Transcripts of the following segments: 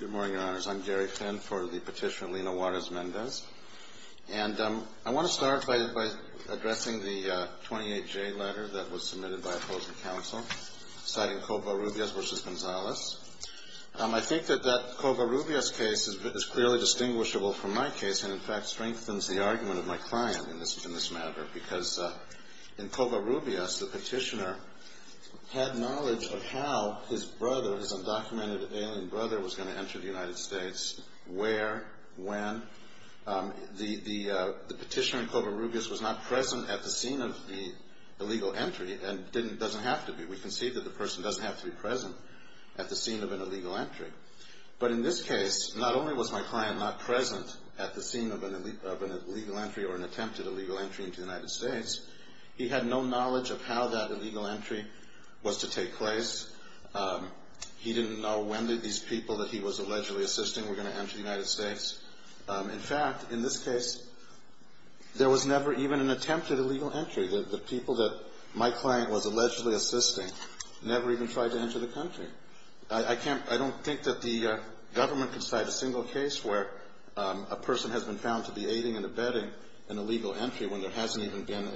Good morning, Your Honors. I'm Gary Finn for the petitioner Lina Juarez-Mendez. And I want to start by addressing the 28-J letter that was submitted by opposing counsel, citing Covarrubias v. Gonzales. I think that that Covarrubias case is clearly distinguishable from my case and, in fact, strengthens the argument of my client in this matter, because in Covarrubias, the petitioner had knowledge of how his brother, his undocumented alien brother, was going to enter the United States, where, when. The petitioner in Covarrubias was not present at the scene of the illegal entry and doesn't have to be. We can see that the person doesn't have to be present at the scene of an illegal entry. But in this case, not only was my client not present at the scene of an illegal entry or an attempted illegal entry into the United States, he had no knowledge of how that illegal entry was to take place. He didn't know when these people that he was allegedly assisting were going to enter the United States. In fact, in this case, there was never even an attempted illegal entry. The people that my client was allegedly assisting never even tried to enter the country. I don't think that the government can cite a single case where a person has been found to be aiding and abetting an illegal entry when there hasn't even been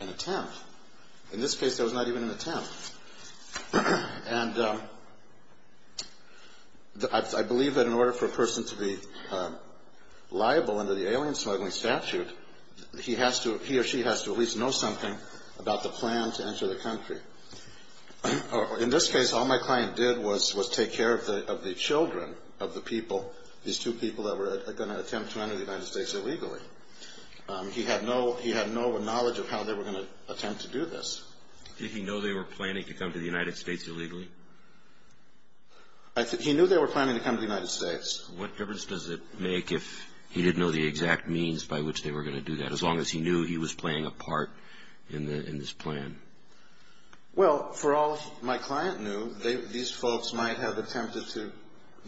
an attempt. In this case, there was not even an attempt. And I believe that in order for a person to be liable under the alien smuggling statute, he or she has to at least know something about the plan to enter the country. In this case, all my client did was take care of the children of the people, these two people that were going to attempt to enter the United States illegally. He had no knowledge of how they were going to attempt to do this. Did he know they were planning to come to the United States illegally? He knew they were planning to come to the United States. What difference does it make if he didn't know the exact means by which they were going to do that, as long as he knew he was playing a part in this plan? Well, for all my client knew, these folks might have attempted to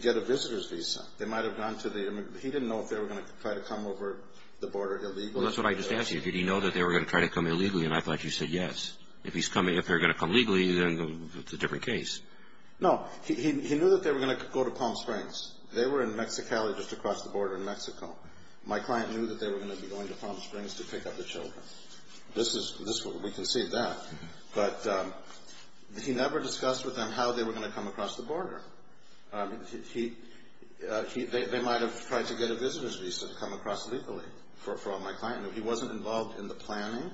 get a visitor's visa. They might have gone to the immigrant. He didn't know if they were going to try to come over the border illegally. Well, that's what I just asked you. Did he know that they were going to try to come illegally? And I thought you said yes. If he's coming, if they're going to come legally, then it's a different case. No. He knew that they were going to go to Palm Springs. They were in Mexicali just across the border in Mexico. My client knew that they were going to be going to Palm Springs to pick up the children. We can see that. But he never discussed with them how they were going to come across the border. They might have tried to get a visitor's visa to come across legally for all my client knew. He wasn't involved in the planning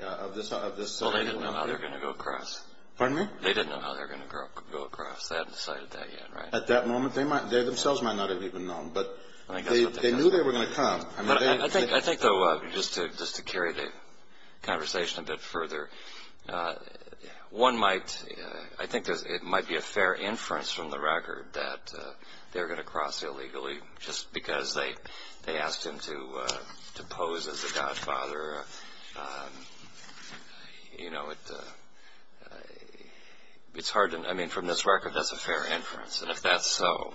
of this. Well, they didn't know how they were going to go across. Pardon me? They didn't know how they were going to go across. They hadn't decided that yet, right? At that moment, they themselves might not have even known. But they knew they were going to come. I think, though, just to carry the conversation a bit further, I think it might be a fair inference from the record that they're going to cross illegally just because they asked him to pose as a godfather. I mean, from this record, that's a fair inference. And if that's so,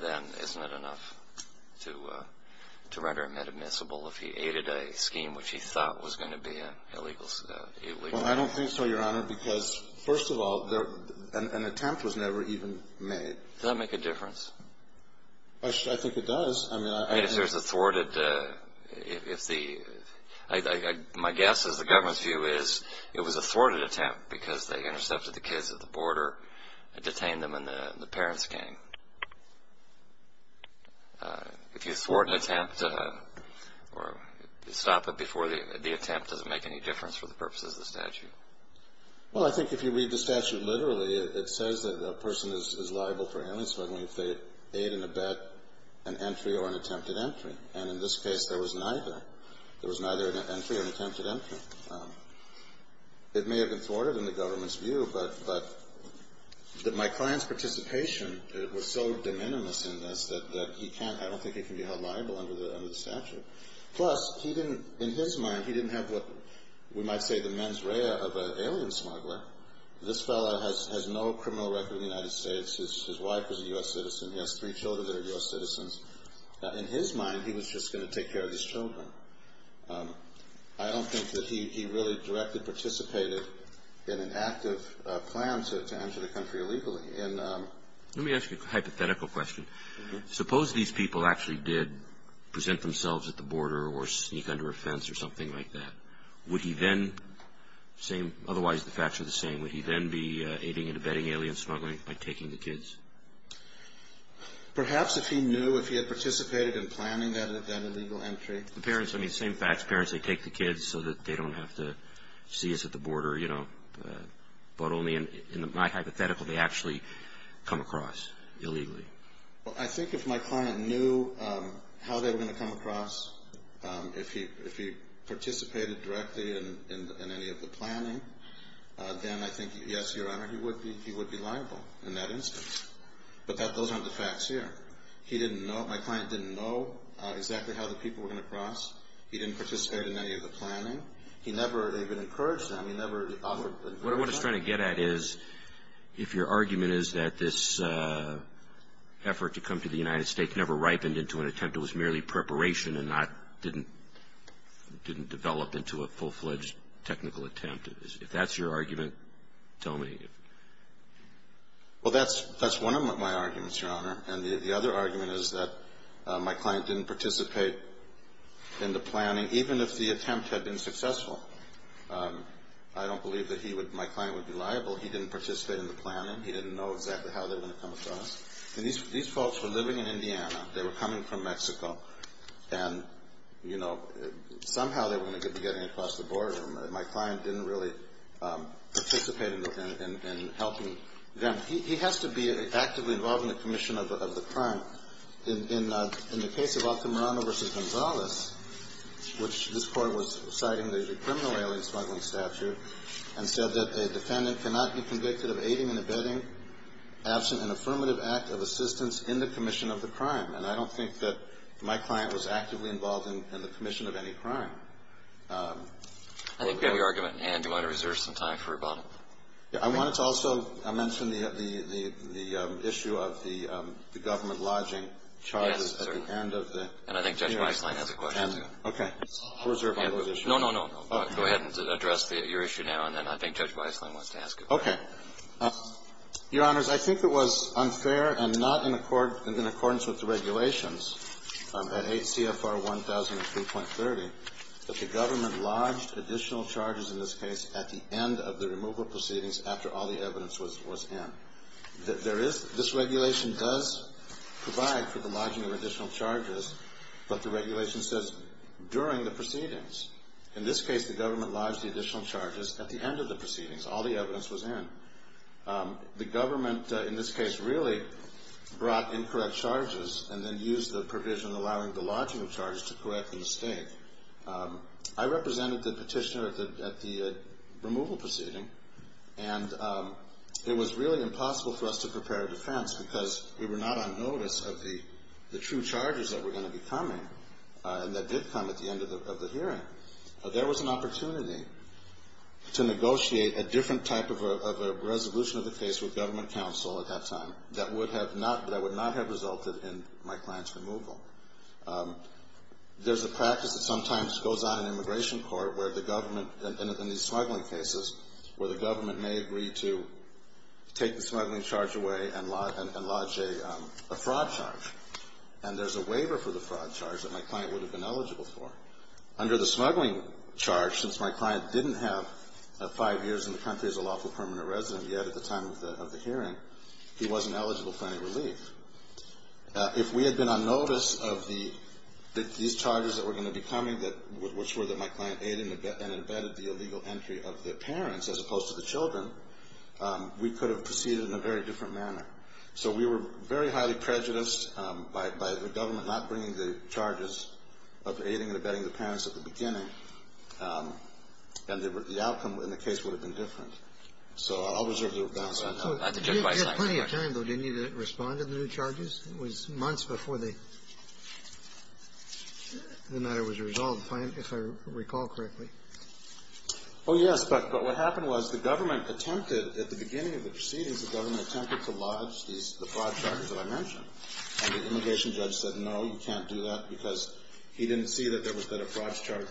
then isn't it enough to render him inadmissible if he aided a scheme which he thought was going to be illegal? Well, I don't think so, Your Honor, because, first of all, an attempt was never even made. Does that make a difference? I think it does. I mean, if there's a thwarted – my guess is the government's view is it was a thwarted attempt because they intercepted the kids at the border, detained them, and the parents came. If you thwart an attempt or stop it before the attempt, does it make any difference for the purposes of the statute? Well, I think if you read the statute literally, it says that a person is liable for amnesty. I mean, if they aid and abet an entry or an attempted entry. And in this case, there was neither. There was neither an entry or an attempted entry. It may have been thwarted in the government's view, but my client's participation was so de minimis in this that he can't – I don't think he can be held liable under the statute. Plus, he didn't – in his mind, he didn't have what we might say the mens rea of an alien smuggler. This fellow has no criminal record in the United States. His wife is a U.S. citizen. He has three children that are U.S. citizens. In his mind, he was just going to take care of these children. I don't think that he really directly participated in an active plan to enter the country illegally. Let me ask you a hypothetical question. Suppose these people actually did present themselves at the border or sneak under a fence or something like that. Would he then – otherwise the facts are the same – would he then be aiding and abetting alien smuggling by taking the kids? Perhaps if he knew, if he had participated in planning that illegal entry. The parents, I mean, same facts. Parents, they take the kids so that they don't have to see us at the border, you know. But only in my hypothetical, they actually come across illegally. Well, I think if my client knew how they were going to come across, if he participated directly in any of the planning, then I think, yes, Your Honor, he would be liable in that instance. But those aren't the facts here. He didn't know. My client didn't know exactly how the people were going to cross. He didn't participate in any of the planning. He never even encouraged them. He never offered them. What I'm trying to get at is if your argument is that this effort to come to the United States never ripened into an attempt. It was merely preparation and not – didn't develop into a full-fledged technical attempt. If that's your argument, tell me. Well, that's one of my arguments, Your Honor. And the other argument is that my client didn't participate in the planning, even if the attempt had been successful. I don't believe that he would – my client would be liable. He didn't participate in the planning. He didn't know exactly how they were going to come across. And these folks were living in Indiana. They were coming from Mexico. And, you know, somehow they were going to be getting across the border. My client didn't really participate in helping them. He has to be actively involved in the commission of the crime. In the case of Altamirano v. Gonzalez, which this Court was citing, there's a criminal alien smuggling statute, and said that a defendant cannot be convicted of aiding and abetting, absent an affirmative act of assistance in the commission of the crime. And I don't think that my client was actively involved in the commission of any crime. I think we have your argument. And do you want to reserve some time for rebuttal? I wanted to also mention the issue of the government lodging charges at the end of the hearing. Yes, sir. And I think Judge Weisslein has a question, too. Okay. I'll reserve my position. No, no, no. Go ahead and address your issue now, and then I think Judge Weisslein wants to ask it. Okay. Your Honors, I think it was unfair and not in accordance with the regulations at 8 CFR 1003.30 that the government lodged additional charges in this case at the end of the removal proceedings after all the evidence was in. This regulation does provide for the lodging of additional charges, but the regulation says during the proceedings. In this case, the government lodged the additional charges at the end of the proceedings. All the evidence was in. The government, in this case, really brought incorrect charges and then used the provision allowing the lodging of charges to correct the mistake. I represented the petitioner at the removal proceeding, and it was really impossible for us to prepare a defense because we were not on notice of the true charges that were going to be coming and that did come at the end of the hearing. There was an opportunity to negotiate a different type of a resolution of the case with government counsel at that time that would not have resulted in my client's removal. There's a practice that sometimes goes on in immigration court where the government, in these smuggling cases, where the government may agree to take the smuggling charge away and lodge a fraud charge, and there's a waiver for the fraud charge that my client would have been eligible for. Under the smuggling charge, since my client didn't have five years in the country as a lawful permanent resident yet at the time of the hearing, he wasn't eligible for any relief. If we had been on notice of these charges that were going to be coming, which were that my client aided and abetted the illegal entry of the parents as opposed to the children, we could have proceeded in a very different manner. So we were very highly prejudiced by the government not bringing the charges of aiding and abetting the parents at the beginning, and the outcome in the case would have been different. So I'll reserve the balance on that. So you had plenty of time, though, didn't you, to respond to the new charges? It was months before the matter was resolved, if I recall correctly. Oh, yes. But what happened was the government attempted at the beginning of the proceedings, the government attempted to lodge the fraud charges that I mentioned. And the immigration judge said, no, you can't do that, because he didn't see that there was that a fraud charge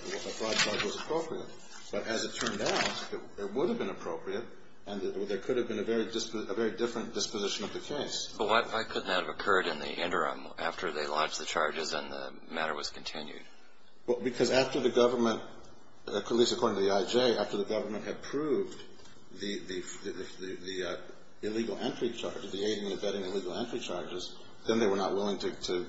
was appropriate. But as it turned out, it would have been appropriate, and there could have been a very different disposition of the case. But why couldn't that have occurred in the interim after they lodged the charges and the matter was continued? Well, because after the government, at least according to the IJ, after the government had proved the illegal entry charges, the aiding and abetting illegal entry charges, then they were not willing to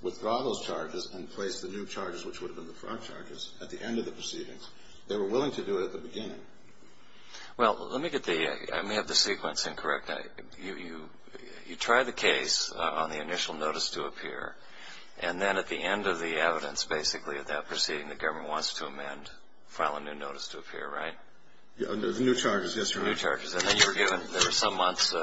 withdraw those charges and place the new charges, which would have been the fraud charges, at the end of the proceedings. They were willing to do it at the beginning. Well, let me get the ‑‑ I may have the sequence incorrect. You tried the case on the initial notice to appear, and then at the end of the evidence, basically, at that proceeding, the government wants to amend, file a new notice to appear, right? The new charges, yes, Your Honor. The new charges. And then you were given some months in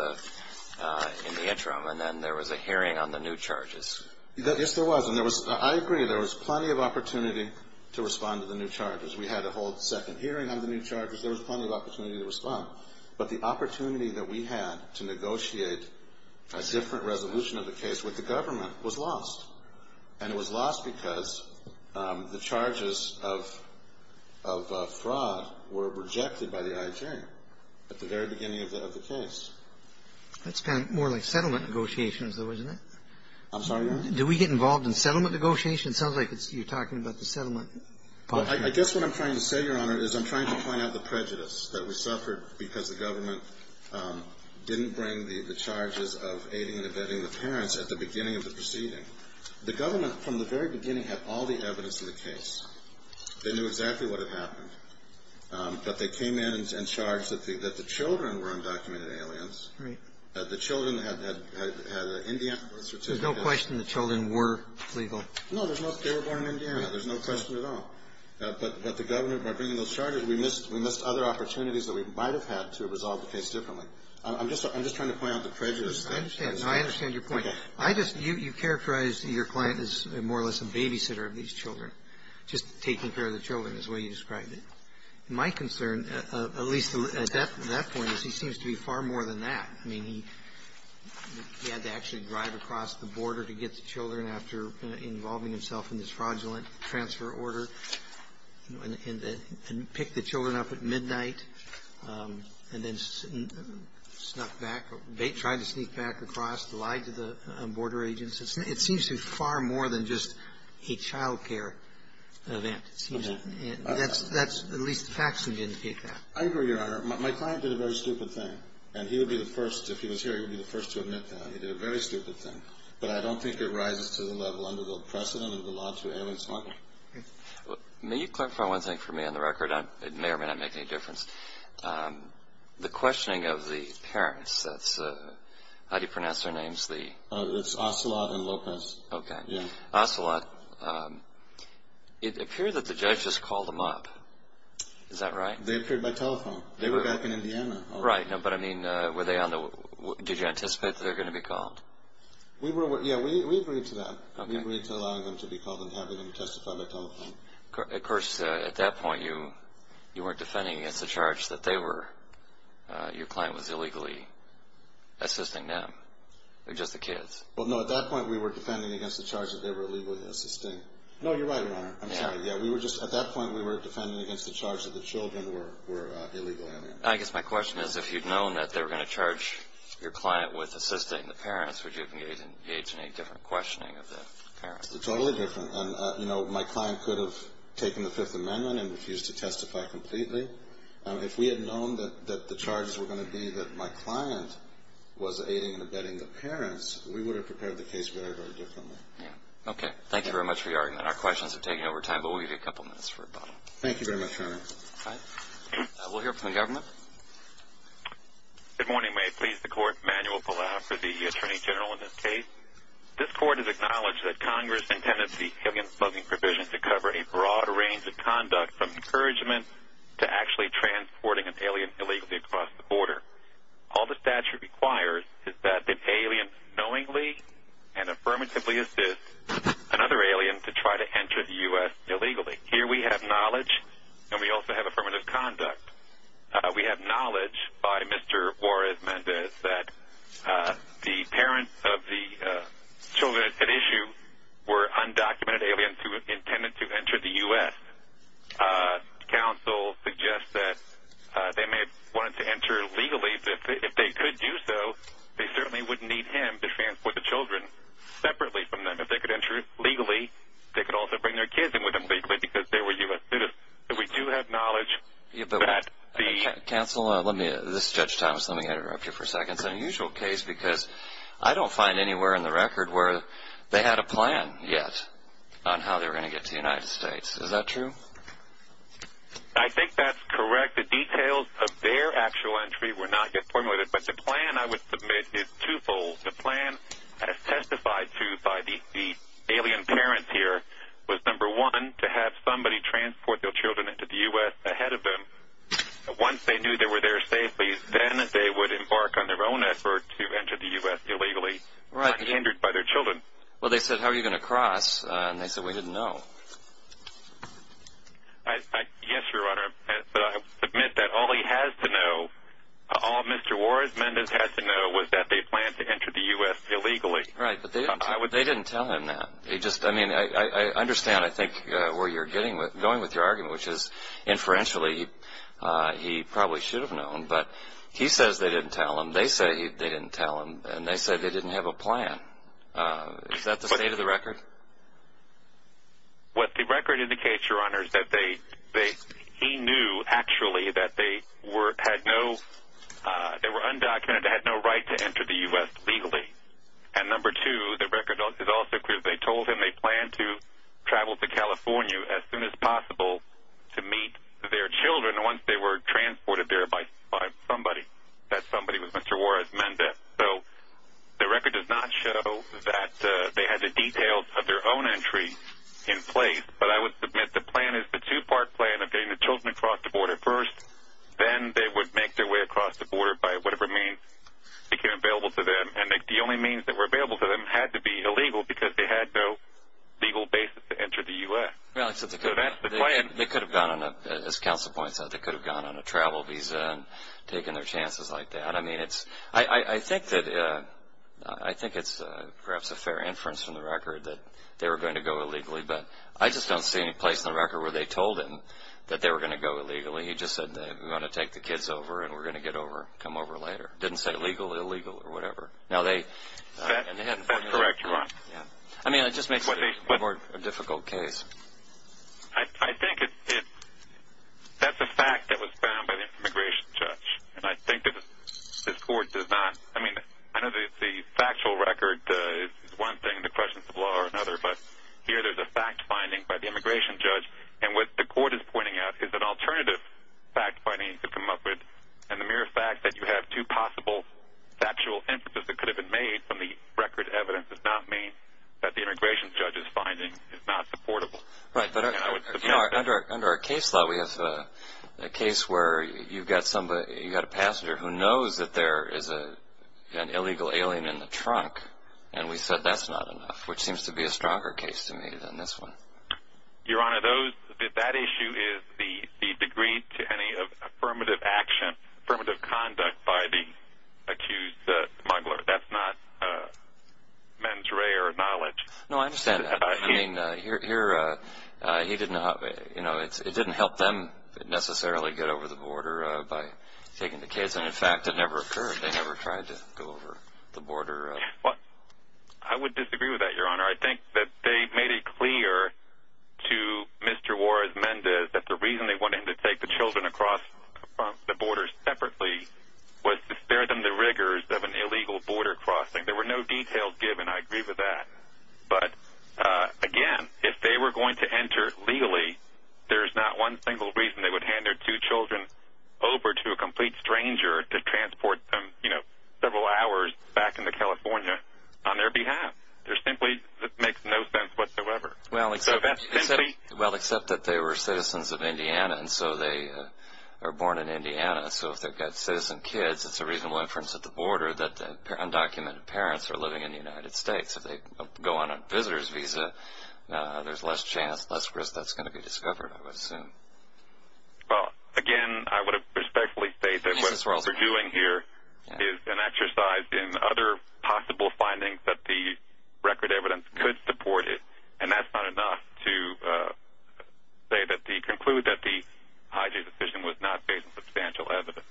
the interim, and then there was a hearing on the new charges. Yes, there was. And I agree, there was plenty of opportunity to respond to the new charges. We had a whole second hearing on the new charges. There was plenty of opportunity to respond. But the opportunity that we had to negotiate a different resolution of the case with the government was lost. And it was lost because the charges of fraud were rejected by the IJ at the very beginning of the case. That's kind of more like settlement negotiations, though, isn't it? I'm sorry, Your Honor? Do we get involved in settlement negotiations? It sounds like you're talking about the settlement policy. Well, I guess what I'm trying to say, Your Honor, is I'm trying to point out the prejudice that we suffered because the government didn't bring the charges of aiding and abetting the parents at the beginning of the proceeding. The government, from the very beginning, had all the evidence in the case. They knew exactly what had happened. But they came in and charged that the children were undocumented aliens. Right. The children had an Indian certificate. There's no question the children were illegal. No, there's no question. They were born in Indiana. There's no question at all. But the government, by bringing those charges, we missed other opportunities that we might have had to have resolved the case differently. I'm just trying to point out the prejudice. I understand. I understand your point. I just you characterized your client as more or less a babysitter of these children, just taking care of the children is the way you described it. My concern, at least at that point, is he seems to be far more than that. I mean, he had to actually drive across the border to get the children after involving himself in this fraudulent transfer order and pick the children up at midnight and then snuck back, tried to sneak back across, lied to the border agents. It seems to be far more than just a child care event. It seems that's at least the facts indicate that. I agree, Your Honor. My client did a very stupid thing. And he would be the first, if he was here, he would be the first to admit that. He did a very stupid thing. But I don't think it rises to the level under the precedent of the law to alienate someone. May you clarify one thing for me on the record? It may or may not make any difference. The questioning of the parents, how do you pronounce their names? It's Ocelot and Lopez. Okay. Ocelot, it appeared that the judge just called them up. Is that right? They appeared by telephone. They were back in Indiana. Right. But, I mean, did you anticipate that they were going to be called? Yeah, we agreed to that. We agreed to allowing them to be called and having them testify by telephone. Of course, at that point you weren't defending against the charge that they were, your client was illegally assisting them, just the kids. Well, no, at that point we were defending against the charge that they were illegally assisting. No, you're right, Your Honor. I'm sorry. Yeah, at that point we were defending against the charge that the children were illegally alienating. I guess my question is if you'd known that they were going to charge your client with assisting the parents, would you have engaged in any different questioning of the parents? Totally different. And, you know, my client could have taken the Fifth Amendment and refused to testify completely. If we had known that the charges were going to be that my client was aiding and abetting the parents, we would have prepared the case very, very differently. Yeah. Okay. Thank you very much for your argument. Our questions have taken over time, but we'll give you a couple minutes for rebuttal. Thank you very much, Your Honor. All right. We'll hear from the government. Good morning. May it please the Court. Manuel Palau for the Attorney General in this case. This Court has acknowledged that Congress intended the alien smuggling provision to cover a broad range of conduct, from encouragement to actually transporting an alien illegally across the border. All the statute requires is that the alien knowingly and affirmatively assist another alien to try to enter the U.S. illegally. Here we have knowledge, and we also have affirmative conduct. We have knowledge by Mr. Juarez-Mendez that the parents of the children at issue were undocumented aliens who intended to enter the U.S. Counsel suggests that they may have wanted to enter legally. If they could do so, they certainly wouldn't need him to transport the children separately from them. If they could enter legally, they could also bring their kids in with them legally because they were U.S. students. We do have knowledge that the- Counsel, this is Judge Thomas. Let me interrupt you for a second. It's an unusual case because I don't find anywhere in the record where they had a plan yet on how they were going to get to the United States. Is that true? I think that's correct. The details of their actual entry were not yet formulated. But the plan, I would submit, is twofold. The plan, as testified to by the alien parents here, was, number one, to have somebody transport their children into the U.S. ahead of them. Once they knew they were there safely, then they would embark on their own effort to enter the U.S. illegally, not hindered by their children. Well, they said, how are you going to cross? And they said, we didn't know. Yes, Your Honor. But I submit that all he has to know, all Mr. Warren Mendez has to know, was that they planned to enter the U.S. illegally. Right, but they didn't tell him that. I mean, I understand, I think, where you're going with your argument, which is, inferentially, he probably should have known. But he says they didn't tell him. They say they didn't tell him. And they said they didn't have a plan. Is that the state of the record? What the record indicates, Your Honor, is that he knew, actually, that they were undocumented, they had no right to enter the U.S. legally. And, number two, the record is also clear. They told him they planned to travel to California as soon as possible to meet their children once they were transported there by somebody. That somebody was Mr. Warren Mendez. So the record does not show that they had the details of their own entry in place. But I would submit the plan is the two-part plan of getting the children across the border first. Then they would make their way across the border by whatever means became available to them. And the only means that were available to them had to be illegal because they had no legal basis to enter the U.S. So that's the plan. They could have gone on a, as Counsel points out, they could have gone on a travel visa and taken their chances like that. I mean, I think it's perhaps a fair inference from the record that they were going to go illegally. But I just don't see any place in the record where they told him that they were going to go illegally. He just said, we're going to take the kids over and we're going to come over later. Didn't say legal or illegal or whatever. That's correct, Your Honor. I mean, it just makes it a more difficult case. I think that's a fact that was found by the immigration judge. And I think that this Court does not, I mean, I know the factual record is one thing, the questions of law are another. But here there's a fact finding by the immigration judge. And what the Court is pointing out is an alternative fact finding to come up with. And the mere fact that you have two possible factual inferences that could have been made from the record evidence does not mean that the immigration judge's finding is not supportable. Right, but under our case law we have a case where you've got a passenger who knows that there is an illegal alien in the trunk. And we said that's not enough, which seems to be a stronger case to me than this one. Your Honor, that issue is the degree to any affirmative action, affirmative conduct by the accused smuggler. That's not mens rea or knowledge. No, I understand that. I mean, it didn't help them necessarily get over the border by taking the kids. And, in fact, it never occurred. They never tried to go over the border. I would disagree with that, Your Honor. I think that they made it clear to Mr. Juarez-Mendez that the reason they wanted him to take the children across the border separately was to spare them the rigors of an illegal border crossing. There were no details given. I agree with that. But, again, if they were going to enter legally, there is not one single reason they would hand their two children over to a complete stranger to transport them, you know, several hours back into California on their behalf. There simply makes no sense whatsoever. Well, except that they were citizens of Indiana, and so they were born in Indiana. So if they've got citizen kids, it's a reasonable inference at the border that the undocumented parents are living in the United States. If they go on a visitor's visa, there's less chance, less risk that's going to be discovered, I would assume. Well, again, I would respectfully state that what we're doing here is an exercise in other possible findings that the record evidence could support it, and that's not enough to conclude that the hijack decision was not based on substantial evidence.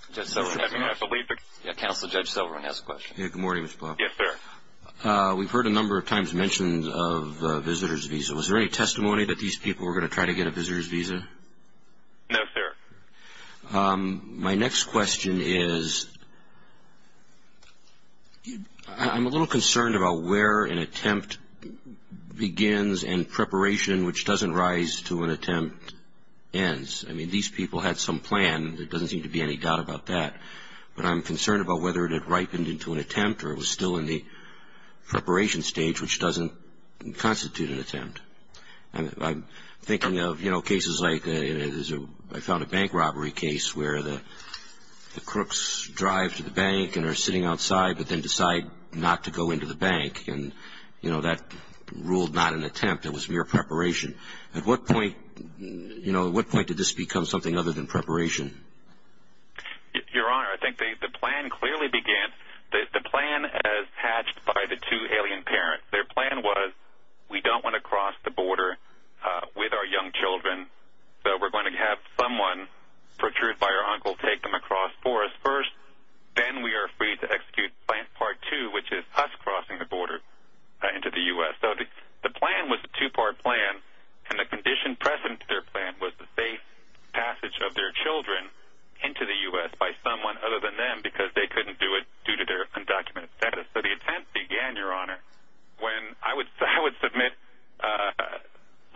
Counselor Judge Silverman has a question. Good morning, Mr. Plowman. Yes, sir. We've heard a number of times mentions of a visitor's visa. Was there any testimony that these people were going to try to get a visitor's visa? No, sir. My next question is I'm a little concerned about where an attempt begins and preparation, which doesn't rise to an attempt, ends. I mean, these people had some plan. There doesn't seem to be any doubt about that. But I'm concerned about whether it had ripened into an attempt or it was still in the preparation stage, which doesn't constitute an attempt. I'm thinking of, you know, cases like I found a bank robbery case where the crooks drive to the bank and are sitting outside but then decide not to go into the bank, and, you know, that ruled not an attempt. It was mere preparation. At what point, you know, at what point did this become something other than preparation? Your Honor, I think the plan clearly began, the plan as hatched by the two alien parents. Their plan was we don't want to cross the border with our young children, so we're going to have someone, for truth by our uncle, take them across for us first. Then we are free to execute Plan Part 2, which is us crossing the border into the U.S. So the plan was a two-part plan, and the condition present to their plan was the safe passage of their children into the U.S. by someone other than them because they couldn't do it due to their undocumented status. So the attempt began, Your Honor, when I would submit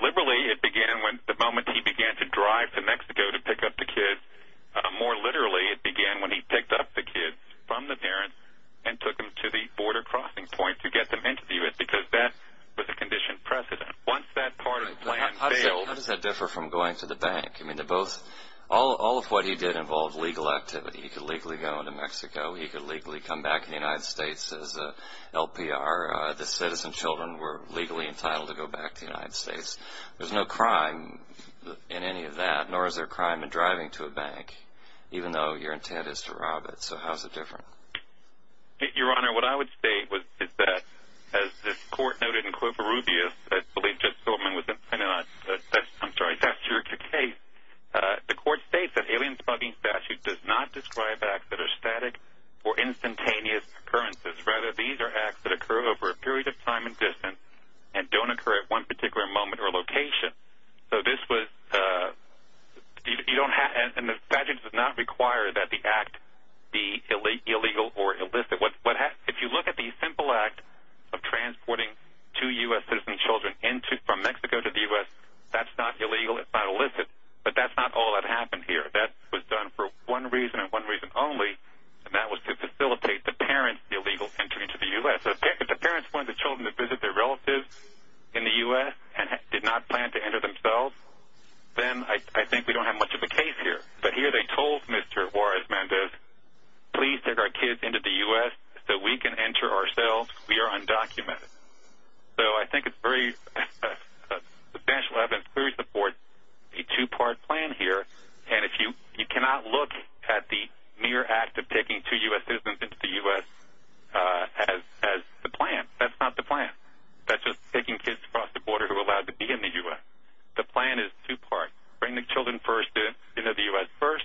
liberally it began the moment he began to drive to Mexico to pick up the kids. More literally, it began when he picked up the kids from the parents and took them to the border crossing point to get them into the U.S. because that was the condition present. Once that part of the plan failed... How does that differ from going to the bank? I mean, all of what he did involved legal activity. He could legally go into Mexico. He could legally come back to the United States as an LPR. The citizen children were legally entitled to go back to the United States. There's no crime in any of that, nor is there a crime in driving to a bank, even though your intent is to rob it. So how is it different? Your Honor, what I would say is that, as this Court noted in Culpa Rubio, I believe Judge Goldman was... I'm sorry, that's your case. The Court states that alien smuggling statute does not describe acts that are static or instantaneous occurrences. Rather, these are acts that occur over a period of time and distance and don't occur at one particular moment or location. So this was... You don't have... And the statute does not require that the act be illegal or illicit. If you look at the simple act of transporting two U.S. citizen children from Mexico to the U.S., that's not illegal. It's not illicit. But that's not all that happened here. That was done for one reason and one reason only, and that was to facilitate the parents' illegal entry into the U.S. If the parents wanted the children to visit their relatives in the U.S. and did not plan to enter themselves, then I think we don't have much of a case here. But here they told Mr. Juarez-Mendez, please take our kids into the U.S. so we can enter ourselves. We are undocumented. So I think it's very substantial. It clearly supports a two-part plan here, and you cannot look at the mere act of taking two U.S. citizens into the U.S. as the plan. That's not the plan. That's just taking kids across the border who are allowed to be in the U.S. The plan is two-part. Bring the children first into the U.S. first.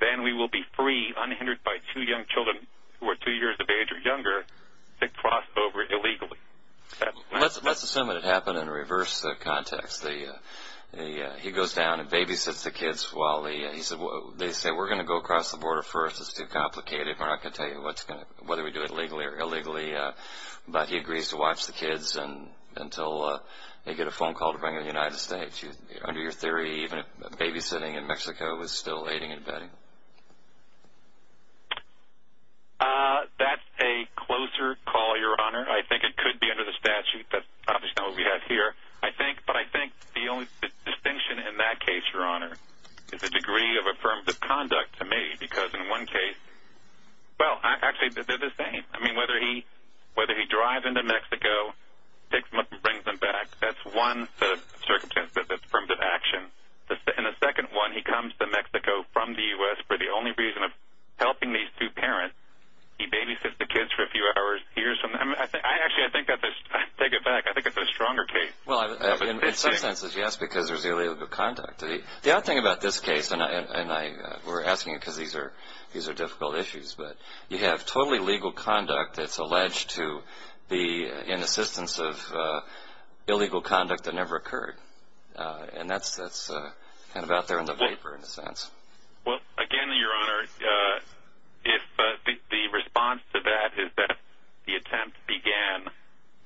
Then we will be free, unhindered by two young children who are two years of age or younger, to cross over illegally. Let's assume that it happened in a reverse context. He goes down and babysits the kids while they say, we're going to go across the border first. It's too complicated. We're not going to tell you whether we do it legally or illegally. But he agrees to watch the kids until they get a phone call to bring them to the United States. Under your theory, even babysitting in Mexico is still aiding and abetting. That's a closer call, Your Honor. I think it could be under the statute. That's obviously not what we have here. But I think the only distinction in that case, Your Honor, is the degree of affirmative conduct to me, because in one case, well, actually they're the same. I mean, whether he drives into Mexico, takes them up and brings them back, that's one circumstance that's affirmative action. In the second one, he comes to Mexico from the U.S. for the only reason of helping these two parents. He babysits the kids for a few hours. Actually, I take it back. I think it's a stronger case. Well, in some senses, yes, because there's illegal conduct. The odd thing about this case, and we're asking because these are difficult issues, but you have totally legal conduct that's alleged to be in assistance of illegal conduct that never occurred. And that's kind of out there in the vapor, in a sense. Well, again, Your Honor, the response to that is that the attempt began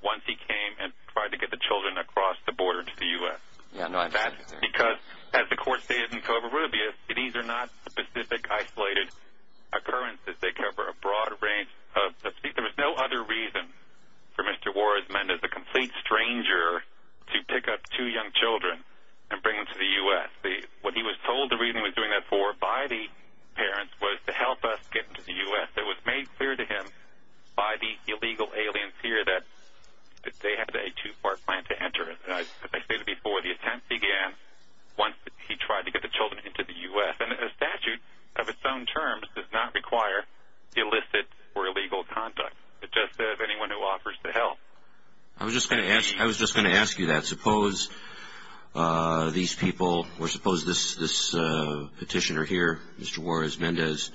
once he came and tried to get the children across the border to the U.S. That's because, as the court stated in Covarrubias, these are not specific isolated occurrences. They cover a broad range. There was no other reason for Mr. Warsman, as a complete stranger, to pick up two young children and bring them to the U.S. What he was told the reason he was doing that for by the parents was to help us get them to the U.S. It was made clear to him by the illegal aliens here that they had a too-far plan to enter it. As I stated before, the attempt began once he tried to get the children into the U.S. And a statute of its own terms does not require illicit or illegal conduct. It just says anyone who offers to help. I was just going to ask you that. Suppose these people, or suppose this petitioner here, Mr. Juarez-Mendez,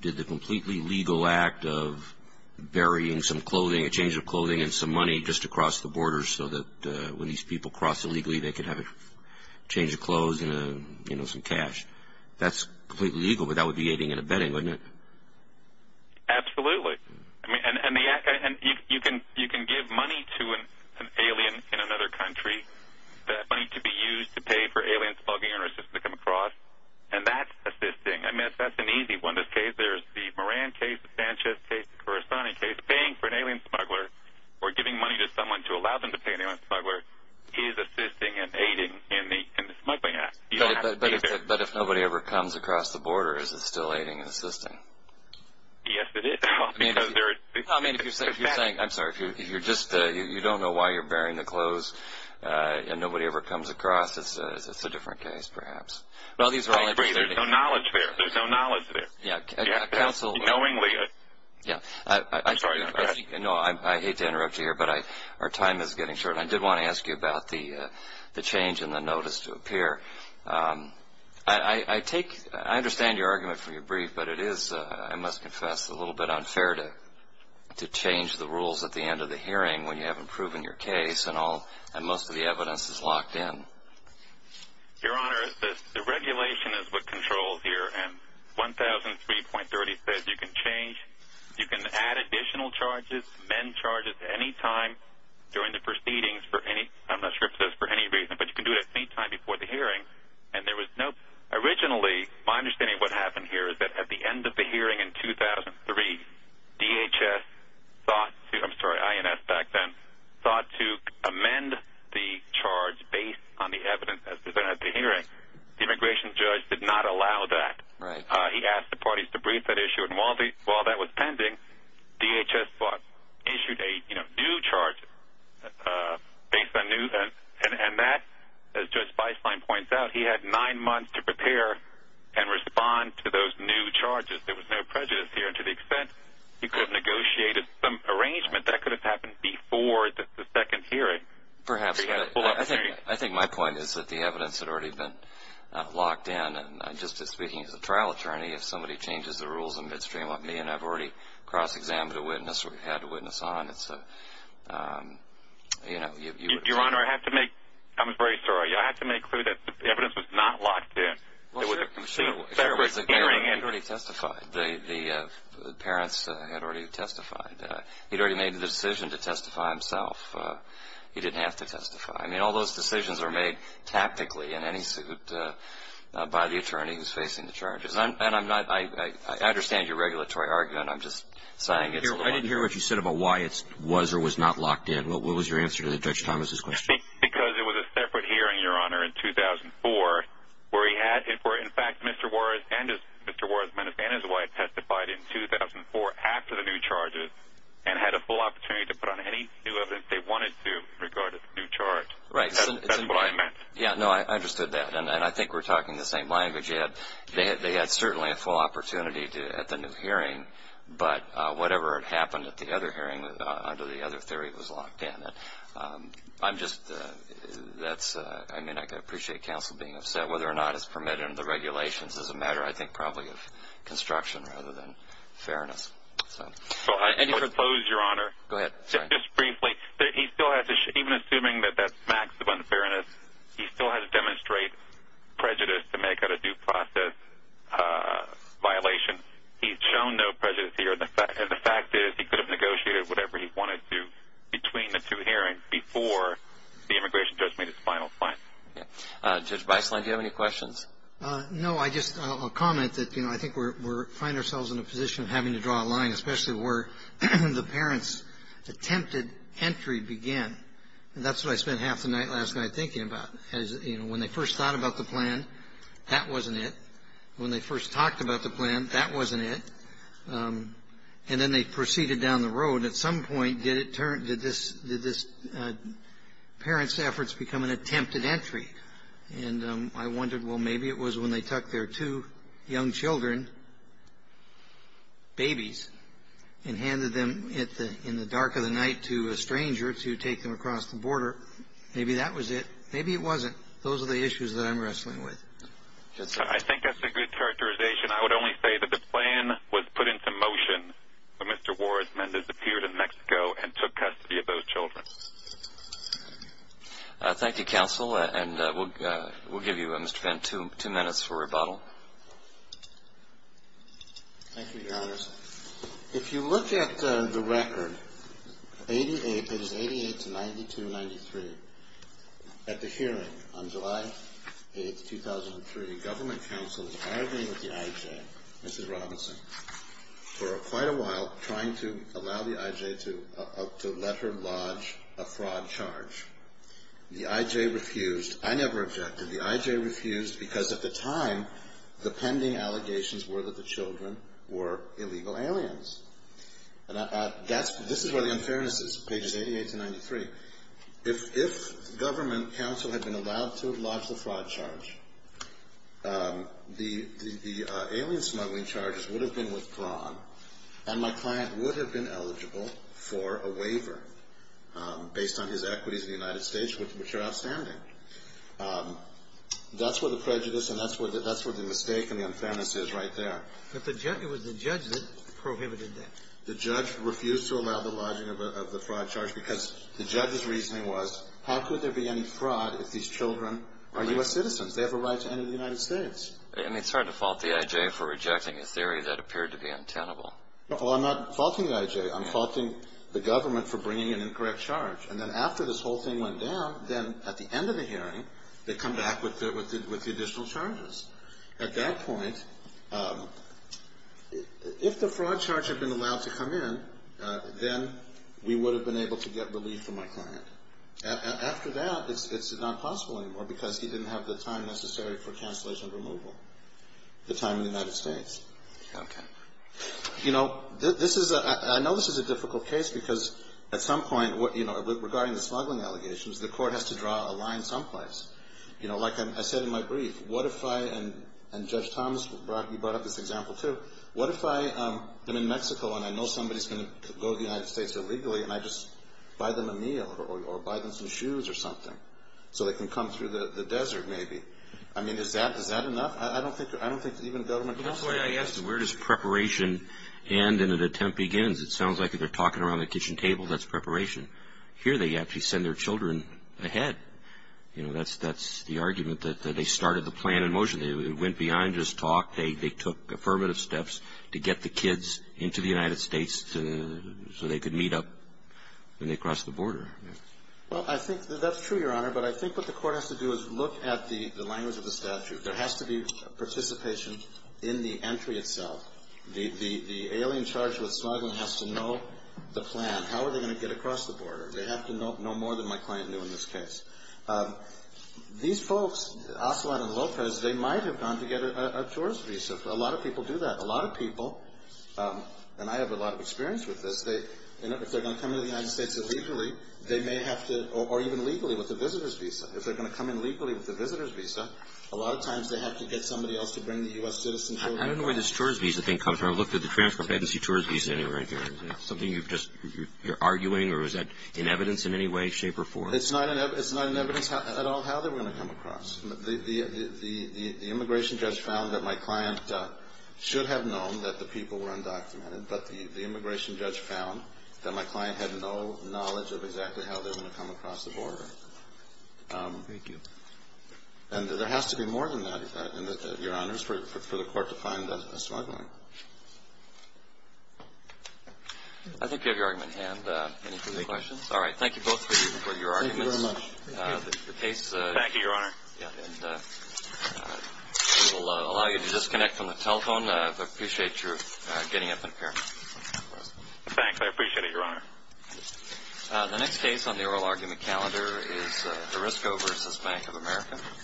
did the completely legal act of burying some clothing, a change of clothing, and some money just to cross the border so that when these people cross illegally they could have a change of clothes and some cash. That's completely legal, but that would be aiding and abetting, wouldn't it? Absolutely. You can give money to an alien in another country, money to be used to pay for alien smugglers to come across, and that's assisting. I mean, if that's an easy one, there's the Moran case, the Sanchez case, the Corazoni case. Paying for an alien smuggler or giving money to someone to allow them to pay an alien smuggler is assisting and aiding in the smuggling act. But if nobody ever comes across the border, is it still aiding and assisting? Yes, it is. I mean, if you're saying, I'm sorry, if you don't know why you're burying the clothes and nobody ever comes across, it's a different case perhaps. Well, these are all interesting. There's no knowledge there. There's no knowledge there. Yeah, counsel. Knowingly. Yeah. I'm sorry, Your Honor. No, I hate to interrupt you here, but our time is getting short. I did want to ask you about the change in the notice to appear. I understand your argument for your brief, but it is, I must confess, a little bit unfair to change the rules at the end of the hearing when you haven't proven your case and most of the evidence is locked in. Your Honor, the regulation is what controls here. And 1003.30 says you can change, you can add additional charges, amend charges at any time during the proceedings for any, I'm not sure if it says for any reason, but you can do it at any time before the hearing. And there was no, originally, my understanding of what happened here is that at the end of the hearing in 2003, DHS thought, I'm sorry, INS back then, thought to amend the charge based on the evidence as presented at the hearing. The immigration judge did not allow that. He asked the parties to brief that issue. And while that was pending, DHS thought, issued a new charge based on news. And that, as Judge Feistlein points out, he had nine months to prepare and respond to those new charges. There was no prejudice here to the extent he could have negotiated some arrangement that could have happened before the second hearing. Perhaps. But I think my point is that the evidence had already been locked in. And just speaking as a trial attorney, if somebody changes the rules in midstream on me and I've already cross-examined a witness or had a witness on, it's a, you know. Your Honor, I have to make, I'm very sorry. I have to make clear that the evidence was not locked in. Well, sure. The parents had already testified. He'd already made the decision to testify himself. He didn't have to testify. I mean, all those decisions are made tactically in any suit by the attorney who's facing the charges. And I'm not, I understand your regulatory argument. I'm just saying it's a little. I didn't hear what you said about why it was or was not locked in. What was your answer to Judge Thomas' question? Because it was a separate hearing, Your Honor, in 2004 where he had, where, in fact, Mr. Juarez and his wife testified in 2004 after the new charges and had a full opportunity to put on any new evidence they wanted to in regard to the new charge. Right. That's what I meant. Yeah, no, I understood that. And I think we're talking the same language. They had certainly a full opportunity at the new hearing, but whatever had happened at the other hearing under the other theory was locked in. I'm just, that's, I mean, I appreciate counsel being upset. You know, whether or not it's permitted under the regulations is a matter, I think, probably of construction rather than fairness. So I suppose, Your Honor. Go ahead. Just briefly, he still has to, even assuming that that's maximum fairness, he still has to demonstrate prejudice to make it a due process violation. He's shown no prejudice here. And the fact is he could have negotiated whatever he wanted to between the two hearings before the immigration judge made his final point. Yeah. Judge Beisland, do you have any questions? No, I just, I'll comment that, you know, I think we're finding ourselves in a position of having to draw a line, especially where the parents' attempted entry began. And that's what I spent half the night last night thinking about. You know, when they first thought about the plan, that wasn't it. When they first talked about the plan, that wasn't it. And then they proceeded down the road. At some point, did this parent's efforts become an attempted entry? And I wondered, well, maybe it was when they took their two young children, babies, and handed them in the dark of the night to a stranger to take them across the border. Maybe that was it. Maybe it wasn't. Those are the issues that I'm wrestling with. I think that's a good characterization. I would only say that the plan was put into motion when Mr. Warrisman disappeared in Mexico and took custody of those children. Thank you, counsel. And we'll give you, Mr. Fenn, two minutes for rebuttal. Thank you, Your Honors. If you look at the record, it is 88-92-93, at the hearing on July 8, 2003, the government counsel was arguing with the I.J., Mrs. Robinson, for quite a while trying to allow the I.J. to let her lodge a fraud charge. The I.J. refused. I never objected. The I.J. refused because, at the time, the pending allegations were that the children were illegal aliens. This is where the unfairness is, pages 88-93. If government counsel had been allowed to lodge the fraud charge, the alien smuggling charges would have been withdrawn, and my client would have been eligible for a waiver based on his equities in the United States, which are outstanding. That's where the prejudice and that's where the mistake and the unfairness is right there. But it was the judge that prohibited that. The judge refused to allow the lodging of the fraud charge because the judge's reasoning was, how could there be any fraud if these children are U.S. citizens? They have a right to enter the United States. And they started to fault the I.J. for rejecting a theory that appeared to be untenable. Well, I'm not faulting the I.J. I'm faulting the government for bringing an incorrect charge. And then after this whole thing went down, then at the end of the hearing, they come back with the additional charges. At that point, if the fraud charge had been allowed to come in, then we would have been able to get relief for my client. After that, it's not possible anymore because he didn't have the time necessary for cancellation removal, the time in the United States. Okay. You know, this is a – I know this is a difficult case because at some point, you know, regarding the smuggling allegations, the court has to draw a line someplace. You know, like I said in my brief, what if I – and Judge Thomas, Brock, you brought up this example too. What if I am in Mexico and I know somebody is going to go to the United States illegally and I just buy them a meal or buy them some shoes or something so they can come through the desert maybe? I mean, is that enough? I don't think even government – That's why I asked, where does preparation end and an attempt begins? It sounds like if they're talking around the kitchen table, that's preparation. Here, they actually send their children ahead. You know, that's the argument that they started the plan in motion. It went beyond just talk. They took affirmative steps to get the kids into the United States so they could meet up when they cross the border. Well, I think that's true, Your Honor. But I think what the court has to do is look at the language of the statute. There has to be participation in the entry itself. The alien charged with smuggling has to know the plan. How are they going to get across the border? They have to know more than my client knew in this case. These folks, Ocelot and Lopez, they might have gone to get a tourist visa. A lot of people do that. A lot of people, and I have a lot of experience with this, if they're going to come to the United States illegally, they may have to – or even legally with a visitor's visa. If they're going to come in legally with a visitor's visa, a lot of times they have to get somebody else to bring the U.S. citizen children. I don't know where this tourist visa thing comes from. I looked at the transcript. I didn't see tourist visa anywhere. Is that something you've just – you're arguing, or is that in evidence in any way, shape or form? It's not in evidence at all how they're going to come across. The immigration judge found that my client should have known that the people were undocumented, but the immigration judge found that my client had no knowledge of exactly how they were going to come across the border. Thank you. And there has to be more than that, Your Honors, for the court to find a smuggling. I think you have your argument in hand. Any further questions? All right. Thank you both for your arguments. Thank you very much. Thank you. Thank you, Your Honor. And we will allow you to disconnect from the telephone. I appreciate your getting up and appearing. Thanks. I appreciate it, Your Honor. The next case on the oral argument calendar is Arisco v. Bank of America. Thank you. You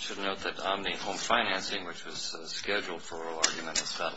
should note that Omni Home Financing, which was scheduled for oral argument, is valid.